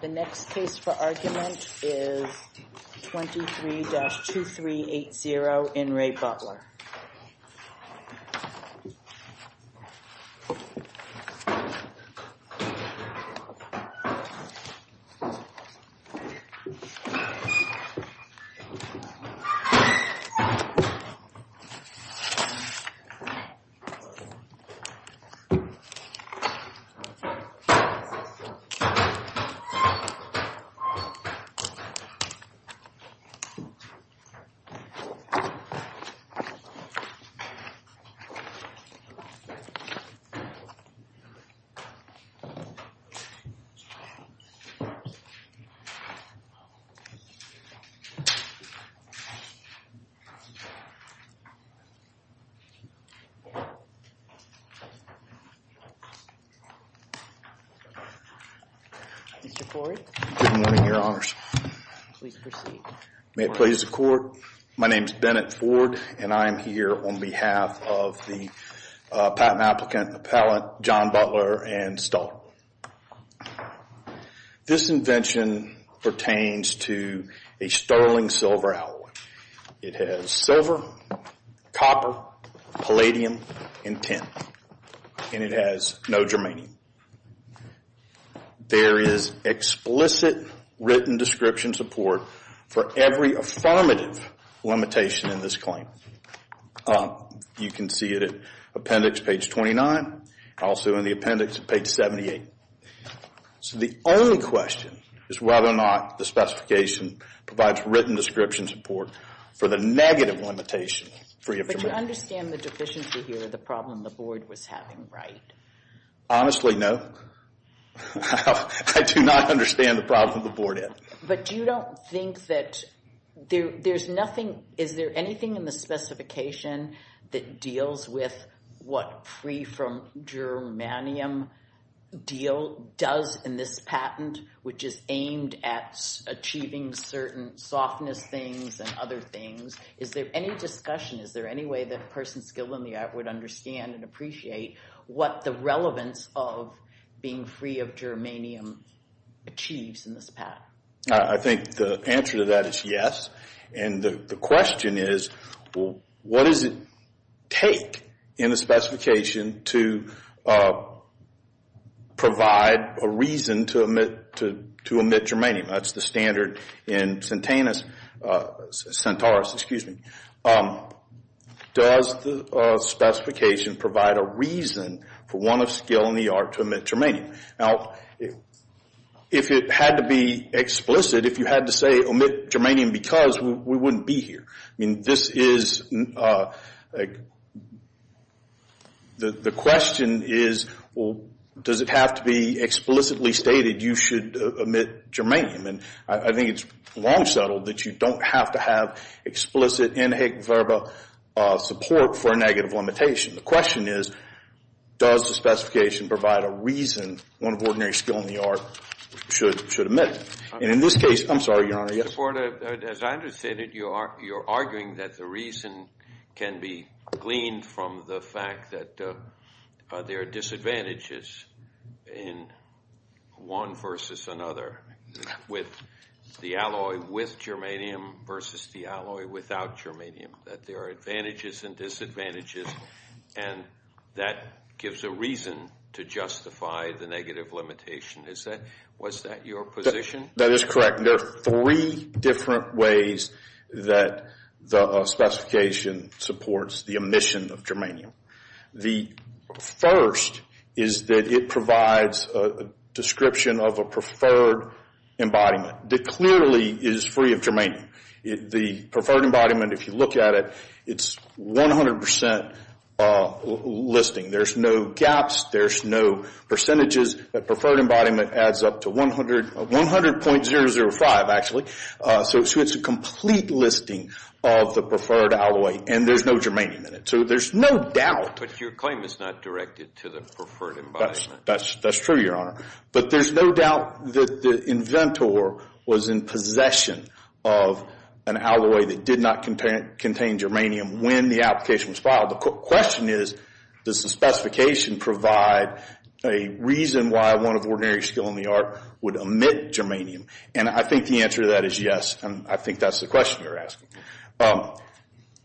The next case for argument is 23-2380 In Re. Butler The next case for argument is 23-2380 In Re. Butler Good morning, Your Honors. May it please the Court, my name is Bennett Ford and I am here on behalf of the patent applicant appellate John Butler and Stahl. This invention pertains to a sterling silver alloy. It has silver, copper, palladium, and tin. And it has no remaining. There is explicit written description support for every affirmative limitation in this claim. You can see it at appendix page 29, also in the appendix at page 78. So the only question is whether or not the specification provides written description support for the negative limitation free of demand. But you understand the deficiency here, the problem the board was having, right? Honestly, no. I do not understand the problem the board had. But you don't think that there's nothing, is there anything in the specification that deals with what free from germanium deal does in this patent which is aimed at achieving certain softness things and other things? Is there any discussion, is there any way that a person skilled in the art would understand and appreciate what the relevance of being free of germanium achieves in this patent? I think the answer to that is yes. And the question is, what does it take in the specification to provide a reason to omit germanium? That's the standard in Centaurus. Does the specification provide a reason for one of skilled in the art to omit germanium? Now, if it had to be explicit, if you had to say omit germanium because, we wouldn't be here. The question is, does it have to be explicitly stated you should omit germanium? And I think it's long settled that you don't have to have explicit inherent support for a negative limitation. The question is, does the specification provide a reason one of ordinary skilled in the art should omit it? And in this case, I'm sorry, Your Honor, yes? As I understand it, you're arguing that the reason can be gleaned from the fact that there are disadvantages in one versus another with the alloy with germanium versus the alloy without germanium. That there are advantages and disadvantages and that gives a reason to justify the negative limitation. Was that your position? That is correct. There are three different ways that the specification supports the omission of germanium. The first is that it provides a description of a preferred embodiment. It clearly is free of germanium. The preferred embodiment, if you look at it, it's 100% listing. There's no gaps. There's no percentages. The preferred embodiment adds up to 100.005 actually. So it's a complete listing of the preferred alloy and there's no germanium in it. So there's no doubt. But your claim is not directed to the preferred embodiment. That's true, Your Honor. But there's no doubt that the inventor was in possession of an alloy that did not contain germanium when the application was filed. The question is, does the specification provide a reason why one of ordinary skill in the art would omit germanium? I think the answer to that is yes. I think that's the question you're asking.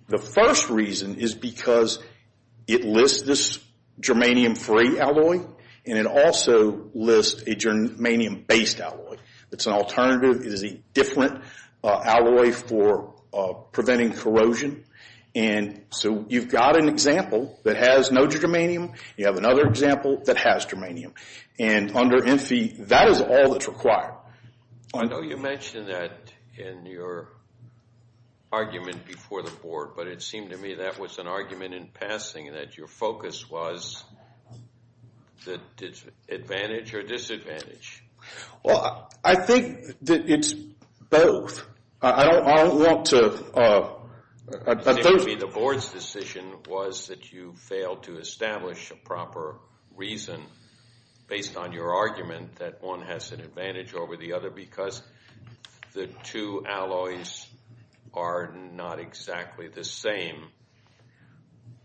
The first reason is because it lists this germanium-free alloy and it also lists a germanium-based alloy. It's an alternative. It is a different alloy for preventing corrosion. So you've got an example that has no germanium. You have another example that has germanium. And under ENFI, that is all that's required. I know you mentioned that in your argument before the Board, but it seemed to me that was an argument in passing and that your focus was advantage or disadvantage. Well, I think that it's both. I don't want to... It seemed to me the Board's decision was that you failed to establish a proper reason based on your argument that one has an advantage over the other because the two alloys are not exactly the same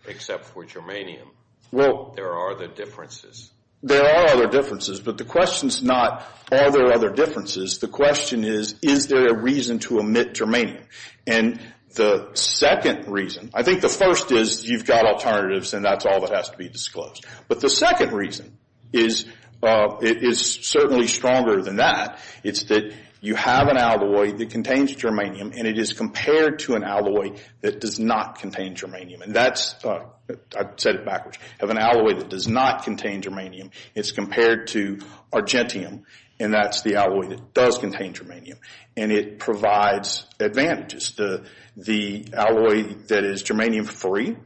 except for germanium. There are other differences. But the question's not are there other differences. The question is, is there a reason to omit germanium? And the second reason... I think the first is you've got alternatives and that's all that has to be disclosed. But the second reason is certainly stronger than that. It's that you have an alloy that contains germanium and it is compared to an alloy that does not contain germanium. And that's... I said it backwards. You have an alloy that does not contain germanium. It's compared to argentium and that's the alloy that does contain germanium. And it provides advantages. The alloy that is germanium-free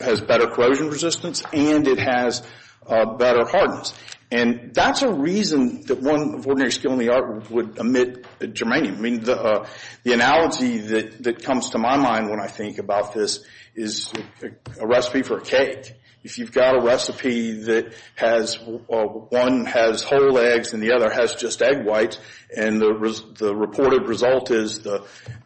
has better corrosion resistance and it has better hardness. And that's a reason that one of ordinary skill in the art would omit germanium. I mean, the analogy that comes to my mind when I think about this is a reference recipe for a cake. If you've got a recipe that has... one has whole eggs and the other has just egg whites and the reported result is the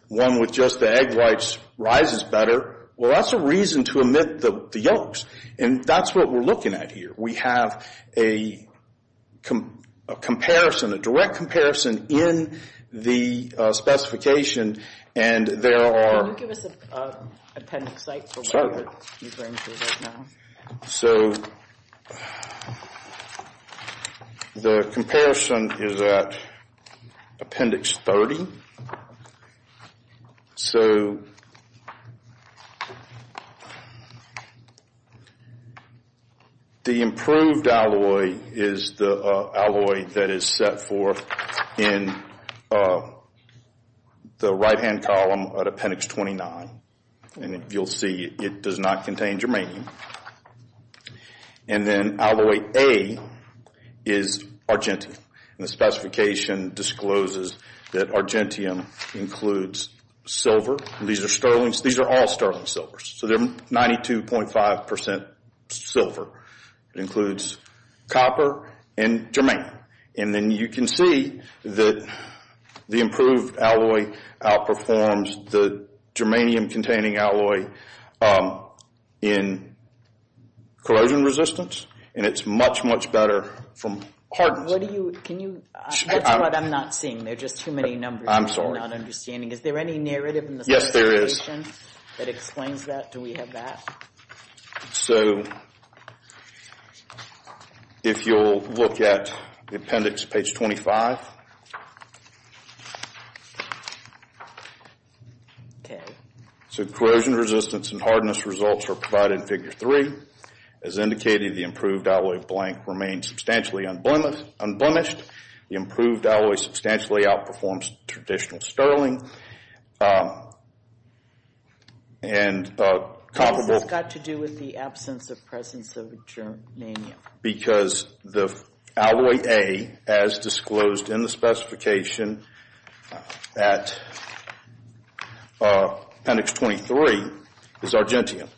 one with just the egg whites rises better, well, that's a reason to omit the yolks. And that's what we're looking at here. We have a comparison, a direct comparison in the specification and there are... So, the comparison is at appendix 30. So, the improved alloy is the alloy that is set for in the right-hand column at appendix 29. And you'll see it does not contain germanium. And then alloy A is argentium. And the specification discloses that argentium includes silver. These are sterling... these are all sterling silvers. So, they're 92.5% silver. It includes copper and germanium. And then you can see that the improved alloy outperforms the germanium containing alloy in corrosion resistance. And it's much, much better from hardness. What do you... can you... that's what I'm not seeing. There are just too many numbers. I'm sorry. I'm not understanding. Is there any narrative in the specification that explains that? Do we have that? If you'll look at appendix page 25. Okay. So, corrosion resistance and hardness results are provided in figure three. As indicated, the improved alloy blank remains substantially unblemished. The improved alloy substantially outperforms traditional sterling. And comparable... How has this got to do with the absence of presence of germanium? Because the alloy A, as disclosed in the specification at appendix 29, is the alloy A. Appendix 23 is argentium.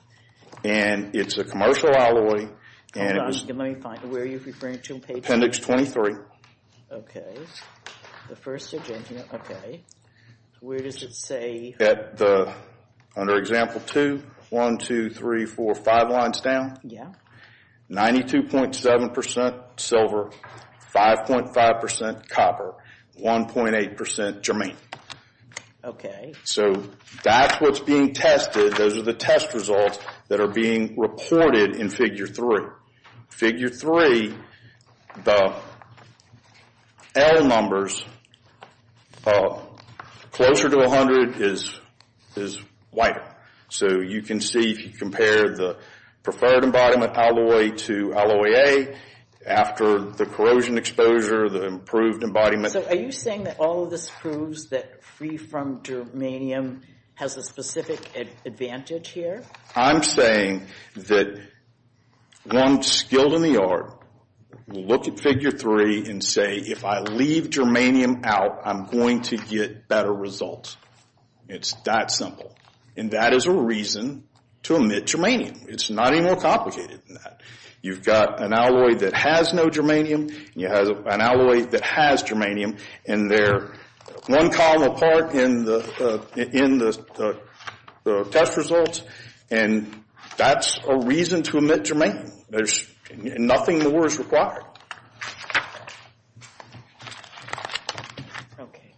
And it's a commercial alloy, and it was... Hold on. Let me find... where are you referring to in page... Appendix 23. Okay. The first argentium. Okay. Where does it say... At the... under example 2. 1, 2, 3, 4, 5 lines down. Yeah. 92.7% silver, 5.5% copper, 1.8% germanium. Okay. So that's what's being tested. Those are the test results that are being reported in figure three. Figure three, the L numbers closer to 100 is whiter. So you can see, if you compare the preferred embodiment alloy to alloy A, after the corrosion exposure, the improved embodiment... So are you saying that all of this proves that safety from germanium has a specific advantage here? I'm saying that one skilled in the yard will look at figure three and say, if I leave germanium out, I'm going to get better results. It's that simple. And that is a reason to omit germanium. It's not any more complicated than that. You've got an alloy that has no germanium, you have an alloy that has germanium, and they're one column apart in the test results. And that's a reason to omit germanium. There's nothing more is required. Okay.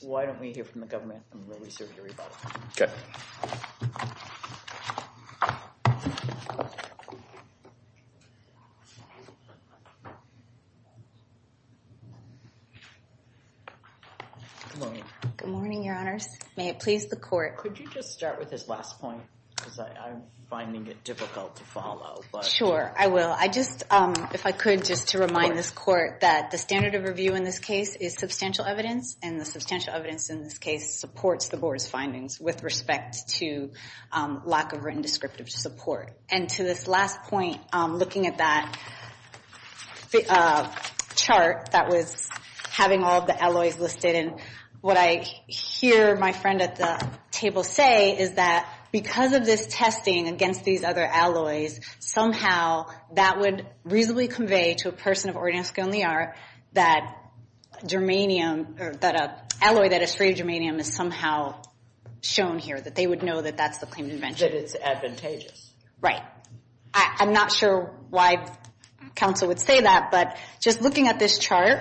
Why don't we hear from the government? I'm really sorry to hear about that. Good morning, your honors. May it please the court. Could you just start with this last point? Because I'm finding it difficult to follow. Sure, I will. If I could just to remind this court that the standard of review in this case is substantial evidence, and the substantial evidence in this case supports the board's findings with respect to lack of written descriptive support. And to this last point, looking at that chart that was having all the alloys listed, and what I hear my friend at the table say is that because of this testing against these other alloys, somehow that would reasonably convey to a person of Oregonian skill and the art that germanium, that an alloy that is free of germanium is somehow shown here, that they would know that that's the claim that it's advantageous. Right. I'm not sure why counsel would say that, but just looking at this chart,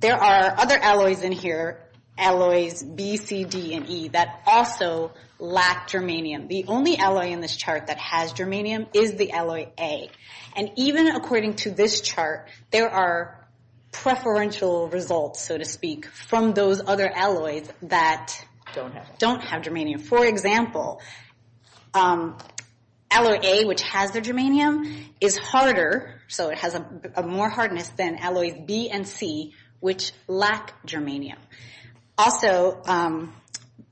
there are other alloys in here, alloys B, C, D, and E, that also lack germanium. The only alloy in this chart that has germanium is the alloy A. And even according to this chart, there are preferential results, so to speak, from those other alloys that don't have germanium. For example, alloy A, which has their germanium, is harder, so it has a more hardness than alloys B and C, which lack germanium. Also,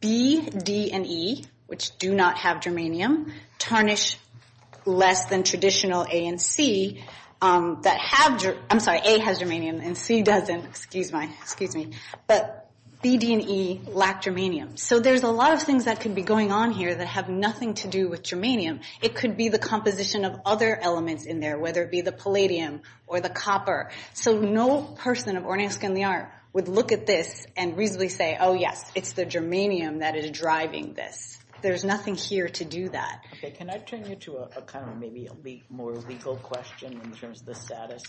B, D, and E, which do not have germanium, tarnish less than traditional A and C that have, I'm sorry, A has germanium and C doesn't, excuse me, but B, D, and E lack germanium. So there's a lot of things that could be going on here that have nothing to do with germanium. It could be the composition of other elements in there, whether it be the palladium or the copper. So no person of Oregonian skill and the art would look at this and reasonably say, oh yes, it's the germanium that is driving this. There's nothing here to do that. Okay, can I turn you to a kind of maybe a more legal question in terms of the status?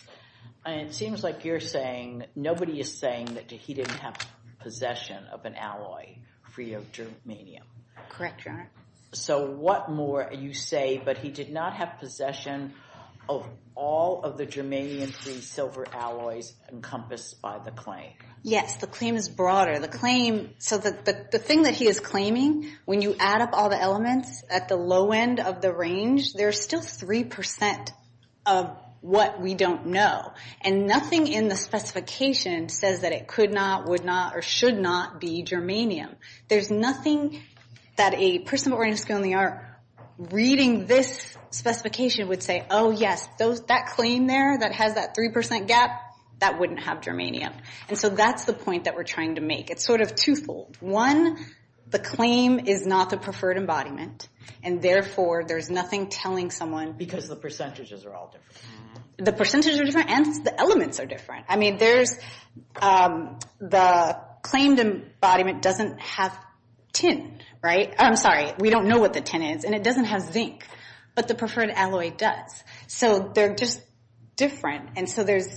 It seems like you're saying, nobody is saying that he didn't have possession of an alloy free of germanium. Correct, Your Honor. So what more, you say, but he did not have possession of all of the germanium-free silver alloys encompassed by the claim? Yes, the claim is broader. The claim, so the thing that he is claiming, when you add up all the elements at the low end of the range, there's still 3% of what we don't know. And nothing in the specification says that it could not, would not, or should not be germanium. There's nothing that a person of Oregonian skill and the art reading this specification would say, oh yes, that claim there that has that 3% gap, that wouldn't have germanium. And so that's the point that we're trying to make. It's sort of two-fold. One, the claim is not the preferred embodiment, and therefore there's nothing telling someone. Because the percentages are all different. The percentages are different and the elements are different. I mean, there's, the claimed embodiment doesn't have tin, right? I'm sorry, we don't know what the tin is, and it doesn't have zinc. But the preferred alloy does. So they're just different. And so there's,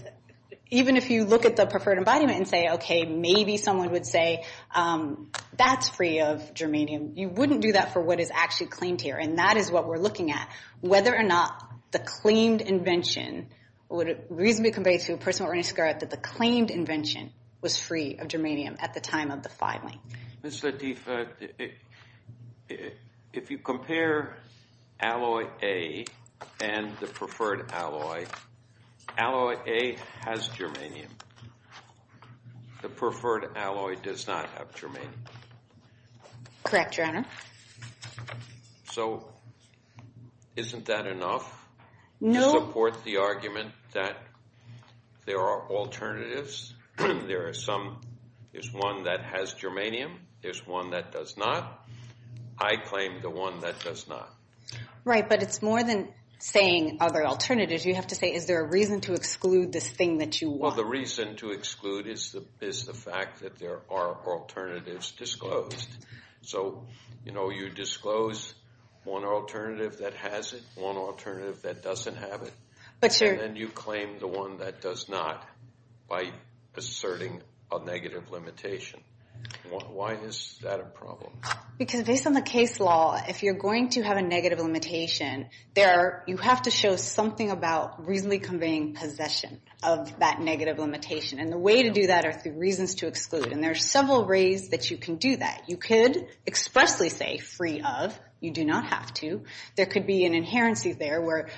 even if you look at the preferred embodiment and say, okay, maybe someone would say, that's free of germanium, you wouldn't do that for what is actually claimed here. And that is what we're looking at. Whether or not the claimed invention, would it reasonably compare to a person of Oregonian skill, that the claimed invention was free of germanium at the time of the filing. Mr. Lateef, if you compare alloy A and the preferred alloy, alloy A has germanium. The Correct, Your Honor. So isn't that enough to support the argument that there are alternatives? There are some, there's one that has germanium, there's one that does not. I claim the one that does not. Right, but it's more than saying other alternatives. You have to say, is there a reason to exclude this thing that you want? Well, the reason to exclude is the fact that there are alternatives disclosed. So, you know, you disclose one alternative that has it, one alternative that doesn't have it. But you're And you claim the one that does not by asserting a negative limitation. Why is that a problem? Because based on the case law, if you're going to have a negative limitation, there are, you have to show something about reasonably conveying possession of that negative limitation. And the way to do that are through reasons to exclude. And there are several ways that you can do that. You could expressly say free of, you do not have to. There could be an inherency there where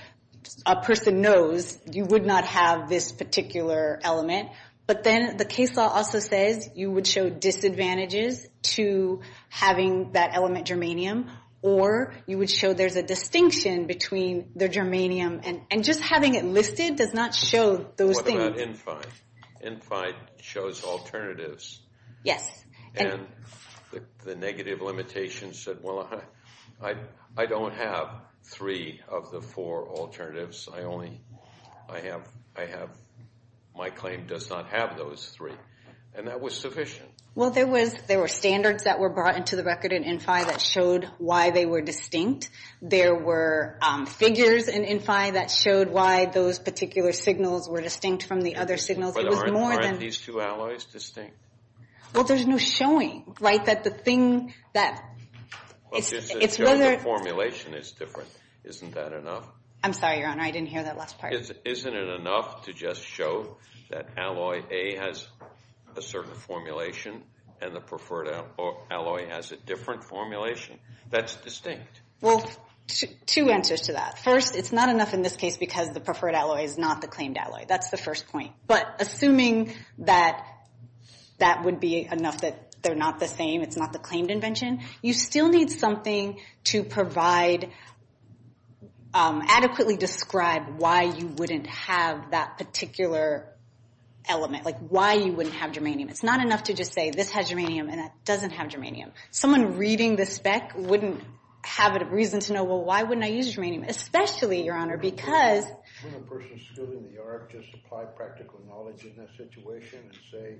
a person knows you would not have this particular element. But then the case law also says you would show disadvantages to having that element germanium, or you would show there's a distinction between the germanium. And just having it listed does not show those things. What about NFI? NFI shows alternatives. Yes. And the negative limitation said, well, I don't have three of the four alternatives. I only, I have, I have, my claim does not have those three. And that was sufficient. Well, there was, there were standards that were brought into the record in NFI that showed why they were distinct. There were figures in NFI that showed why those particular signals were distinct from the other signals. It was more than... But aren't these two alloys distinct? Well, there's no showing, right? That the thing that... Well, just to show the formulation is different. Isn't that enough? I'm sorry, Your Honor. I didn't hear that last part. Isn't it enough to just show that alloy A has a certain formulation and the preferred alloy has a different formulation that's distinct? Well, two answers to that. First, it's not enough in this case because the preferred alloy is not the claimed alloy. That's the first point. But assuming that that would be enough that they're not the same, it's not the claimed invention, you still need something to provide, adequately describe why you wouldn't have that particular element, like why you wouldn't have germanium. It's not enough to just say this has germanium and that doesn't have germanium. Someone reading the spec wouldn't have a reason to know, well, why wouldn't I use germanium? Especially, Your Honor, because... Wouldn't a person still in the arc just apply practical knowledge in that situation and say,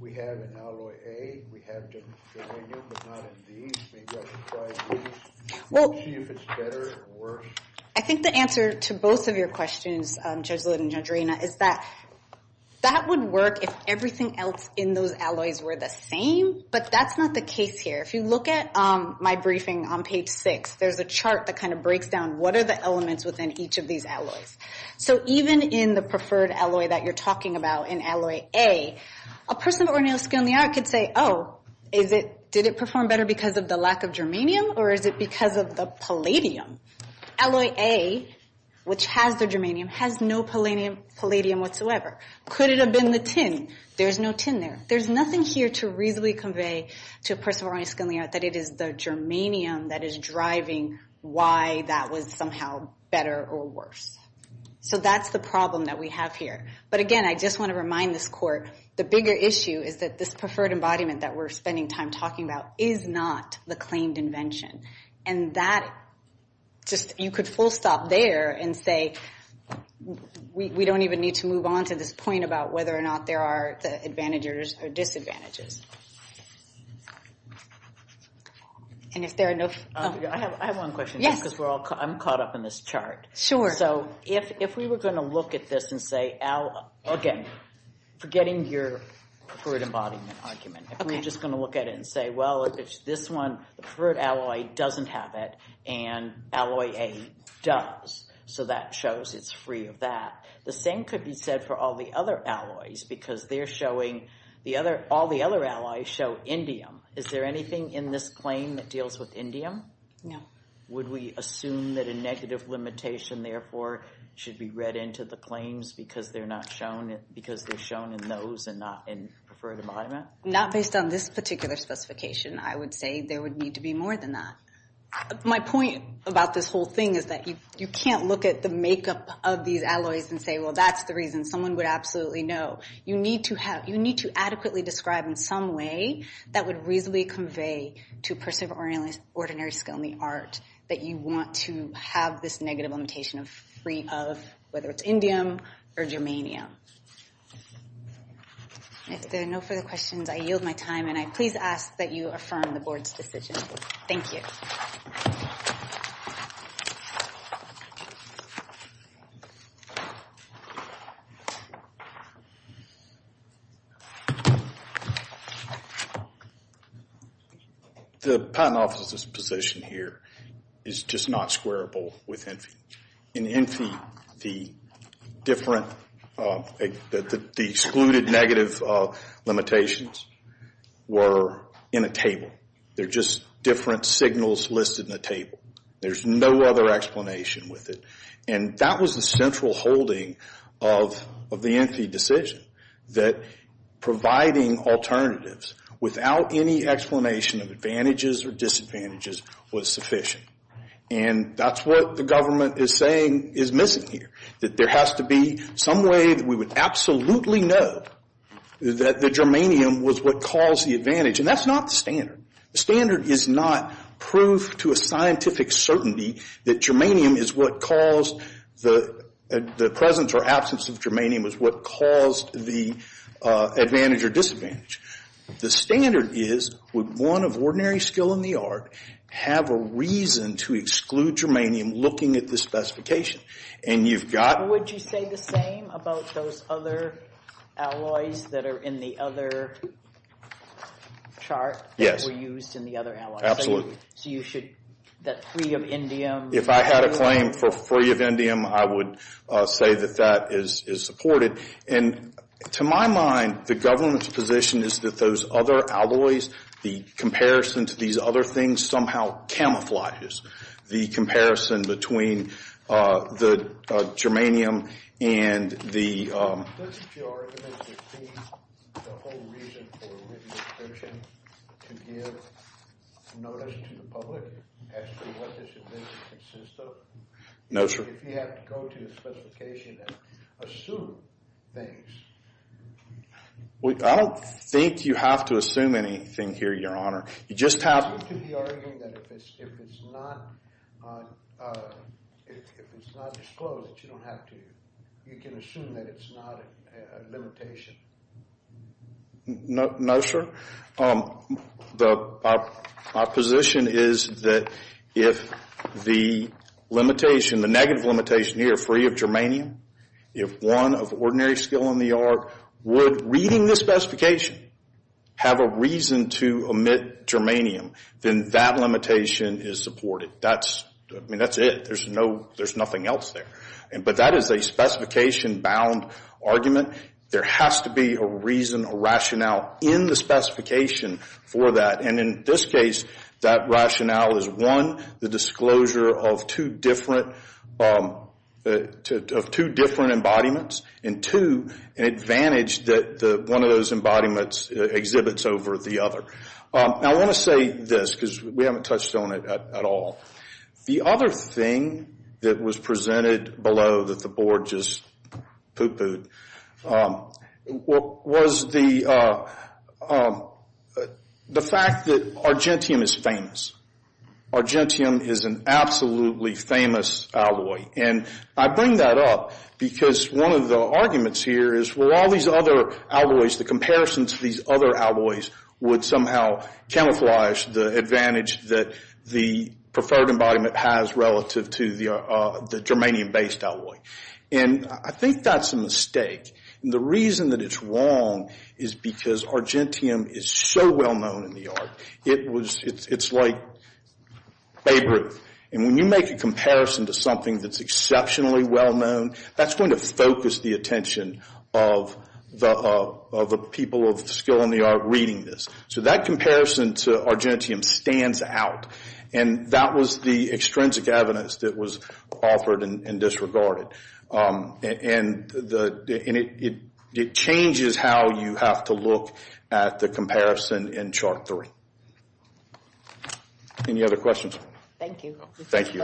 we have an alloy A, we have germanium, but not in these. Maybe I should try these. We'll see if it's better or worse. I think the answer to both of your questions, Judge Litt and Judge Arena, is that that would work if everything else in those alloys were the same, but that's not the case here. If you look at my briefing on page 6, there's a chart that kind of breaks down what are the elements within each of these alloys. So even in the preferred alloy that you're talking about, in alloy A, a person at O'Neill School in the Arc could say, oh, is it, did it perform better because of the lack of germanium or is it because of the palladium? Alloy A, which has the germanium, has no palladium whatsoever. Could it have been the tin? There's no tin there. There's nothing here to reasonably convey to a person from O'Neill School in the Arc that it is the germanium that is driving why that was somehow better or worse. So that's the problem that we have here. But again, I just want to remind this Court, the bigger issue is that this preferred embodiment that we're spending time talking about is not the claimed invention. And that, just, you could full stop there and say, we don't even need to move on to this point about whether or not there are advantages or disadvantages. And if there are no... I have one question. Yes. I'm caught up in this chart. So if we were going to look at this and say, again, forgetting your preferred embodiment argument, if we were just going to look at it and say, this one, the preferred alloy doesn't have it and alloy A does. So that shows it's free of that. The same could be said for all the other alloys because they're showing, all the other alloys show indium. Is there anything in this claim that deals with indium? No. Would we assume that a negative limitation, therefore, should be read into the claims because they're shown in those and not in preferred embodiment? Not based on this particular specification. I would say there would need to be more than that. My point about this whole thing is that you can't look at the makeup of these alloys and say, well, that's the reason. Someone would absolutely know. You need to adequately describe in some way that would reasonably convey to a person of ordinary skill in the art that you want to have this negative limitation free of whether it's indium or germanium. If there are no further questions, I yield my time. And I please ask that you affirm the board's decision. Thank you. The patent office's position here is just not squarable with ENFI. In ENFI, the excluded negative limitations were in a table. They're just different signals listed in a table. There's no other explanation with it. And that was the central holding of the ENFI decision, that providing alternatives without any explanation of advantages or disadvantages was sufficient. And that's what the government is saying is missing here, that there has to be some way that we would absolutely know that the germanium was what caused the advantage. And that's not the standard. The standard is not proof to a scientific certainty that germanium is what caused the presence or absence of germanium was what caused the advantage or disadvantage. The standard is, would one of ordinary skill in the art have a reason to exclude germanium looking at the specification? And you've got... Would you say the same about those other alloys that are in the other chart? Yes. That were used in the other alloys? Absolutely. So you should, that free of indium... If I had a claim for free of indium, I would say that that is supported. And to my mind, the government's position is that those other alloys, the comparison to these other things, somehow camouflages the comparison between the germanium and the... Doesn't your argument include the whole reason for a written extension to give notice to the public as to what this advantage consists of? No, sir. If you have to go to the specification and assume things... I don't think you have to assume anything here, Your Honor. You just have... Are you to be arguing that if it's not disclosed that you don't have to... You can assume that it's not a limitation? No, sir. My position is that if the limitation, the negative limitation here, free of germanium, if one of ordinary skill in the art would, reading the specification, have a reason to omit germanium, then that limitation is supported. That's it. There's nothing else there. But that is a specification-bound argument. There has to be a reason, a rationale in the specification for that. In this case, that rationale is, one, the disclosure of two different embodiments, and two, an advantage that one of those embodiments exhibits over the other. I want to say this because we haven't touched on it at all. The other thing that was presented below that the Board just poo-pooed was the fact that argentium is famous. Argentium is an absolutely famous alloy. And I bring that up because one of the arguments here is, well, all these other alloys, the comparison to these other alloys, would somehow camouflage the advantage that the preferred embodiment has relative to the germanium-based alloy. I think that's a mistake. The reason that it's wrong is because argentium is so well-known in the art. It's like Babe Ruth. When you make a comparison to something that's exceptionally well-known, that's going to focus the attention of the people of skill in the art reading this. So that comparison to argentium stands out. And that was the extrinsic evidence that was offered and disregarded. And it changes how you have to look at the comparison in chart three. Any other questions? Thank you. Thank you. Thank you.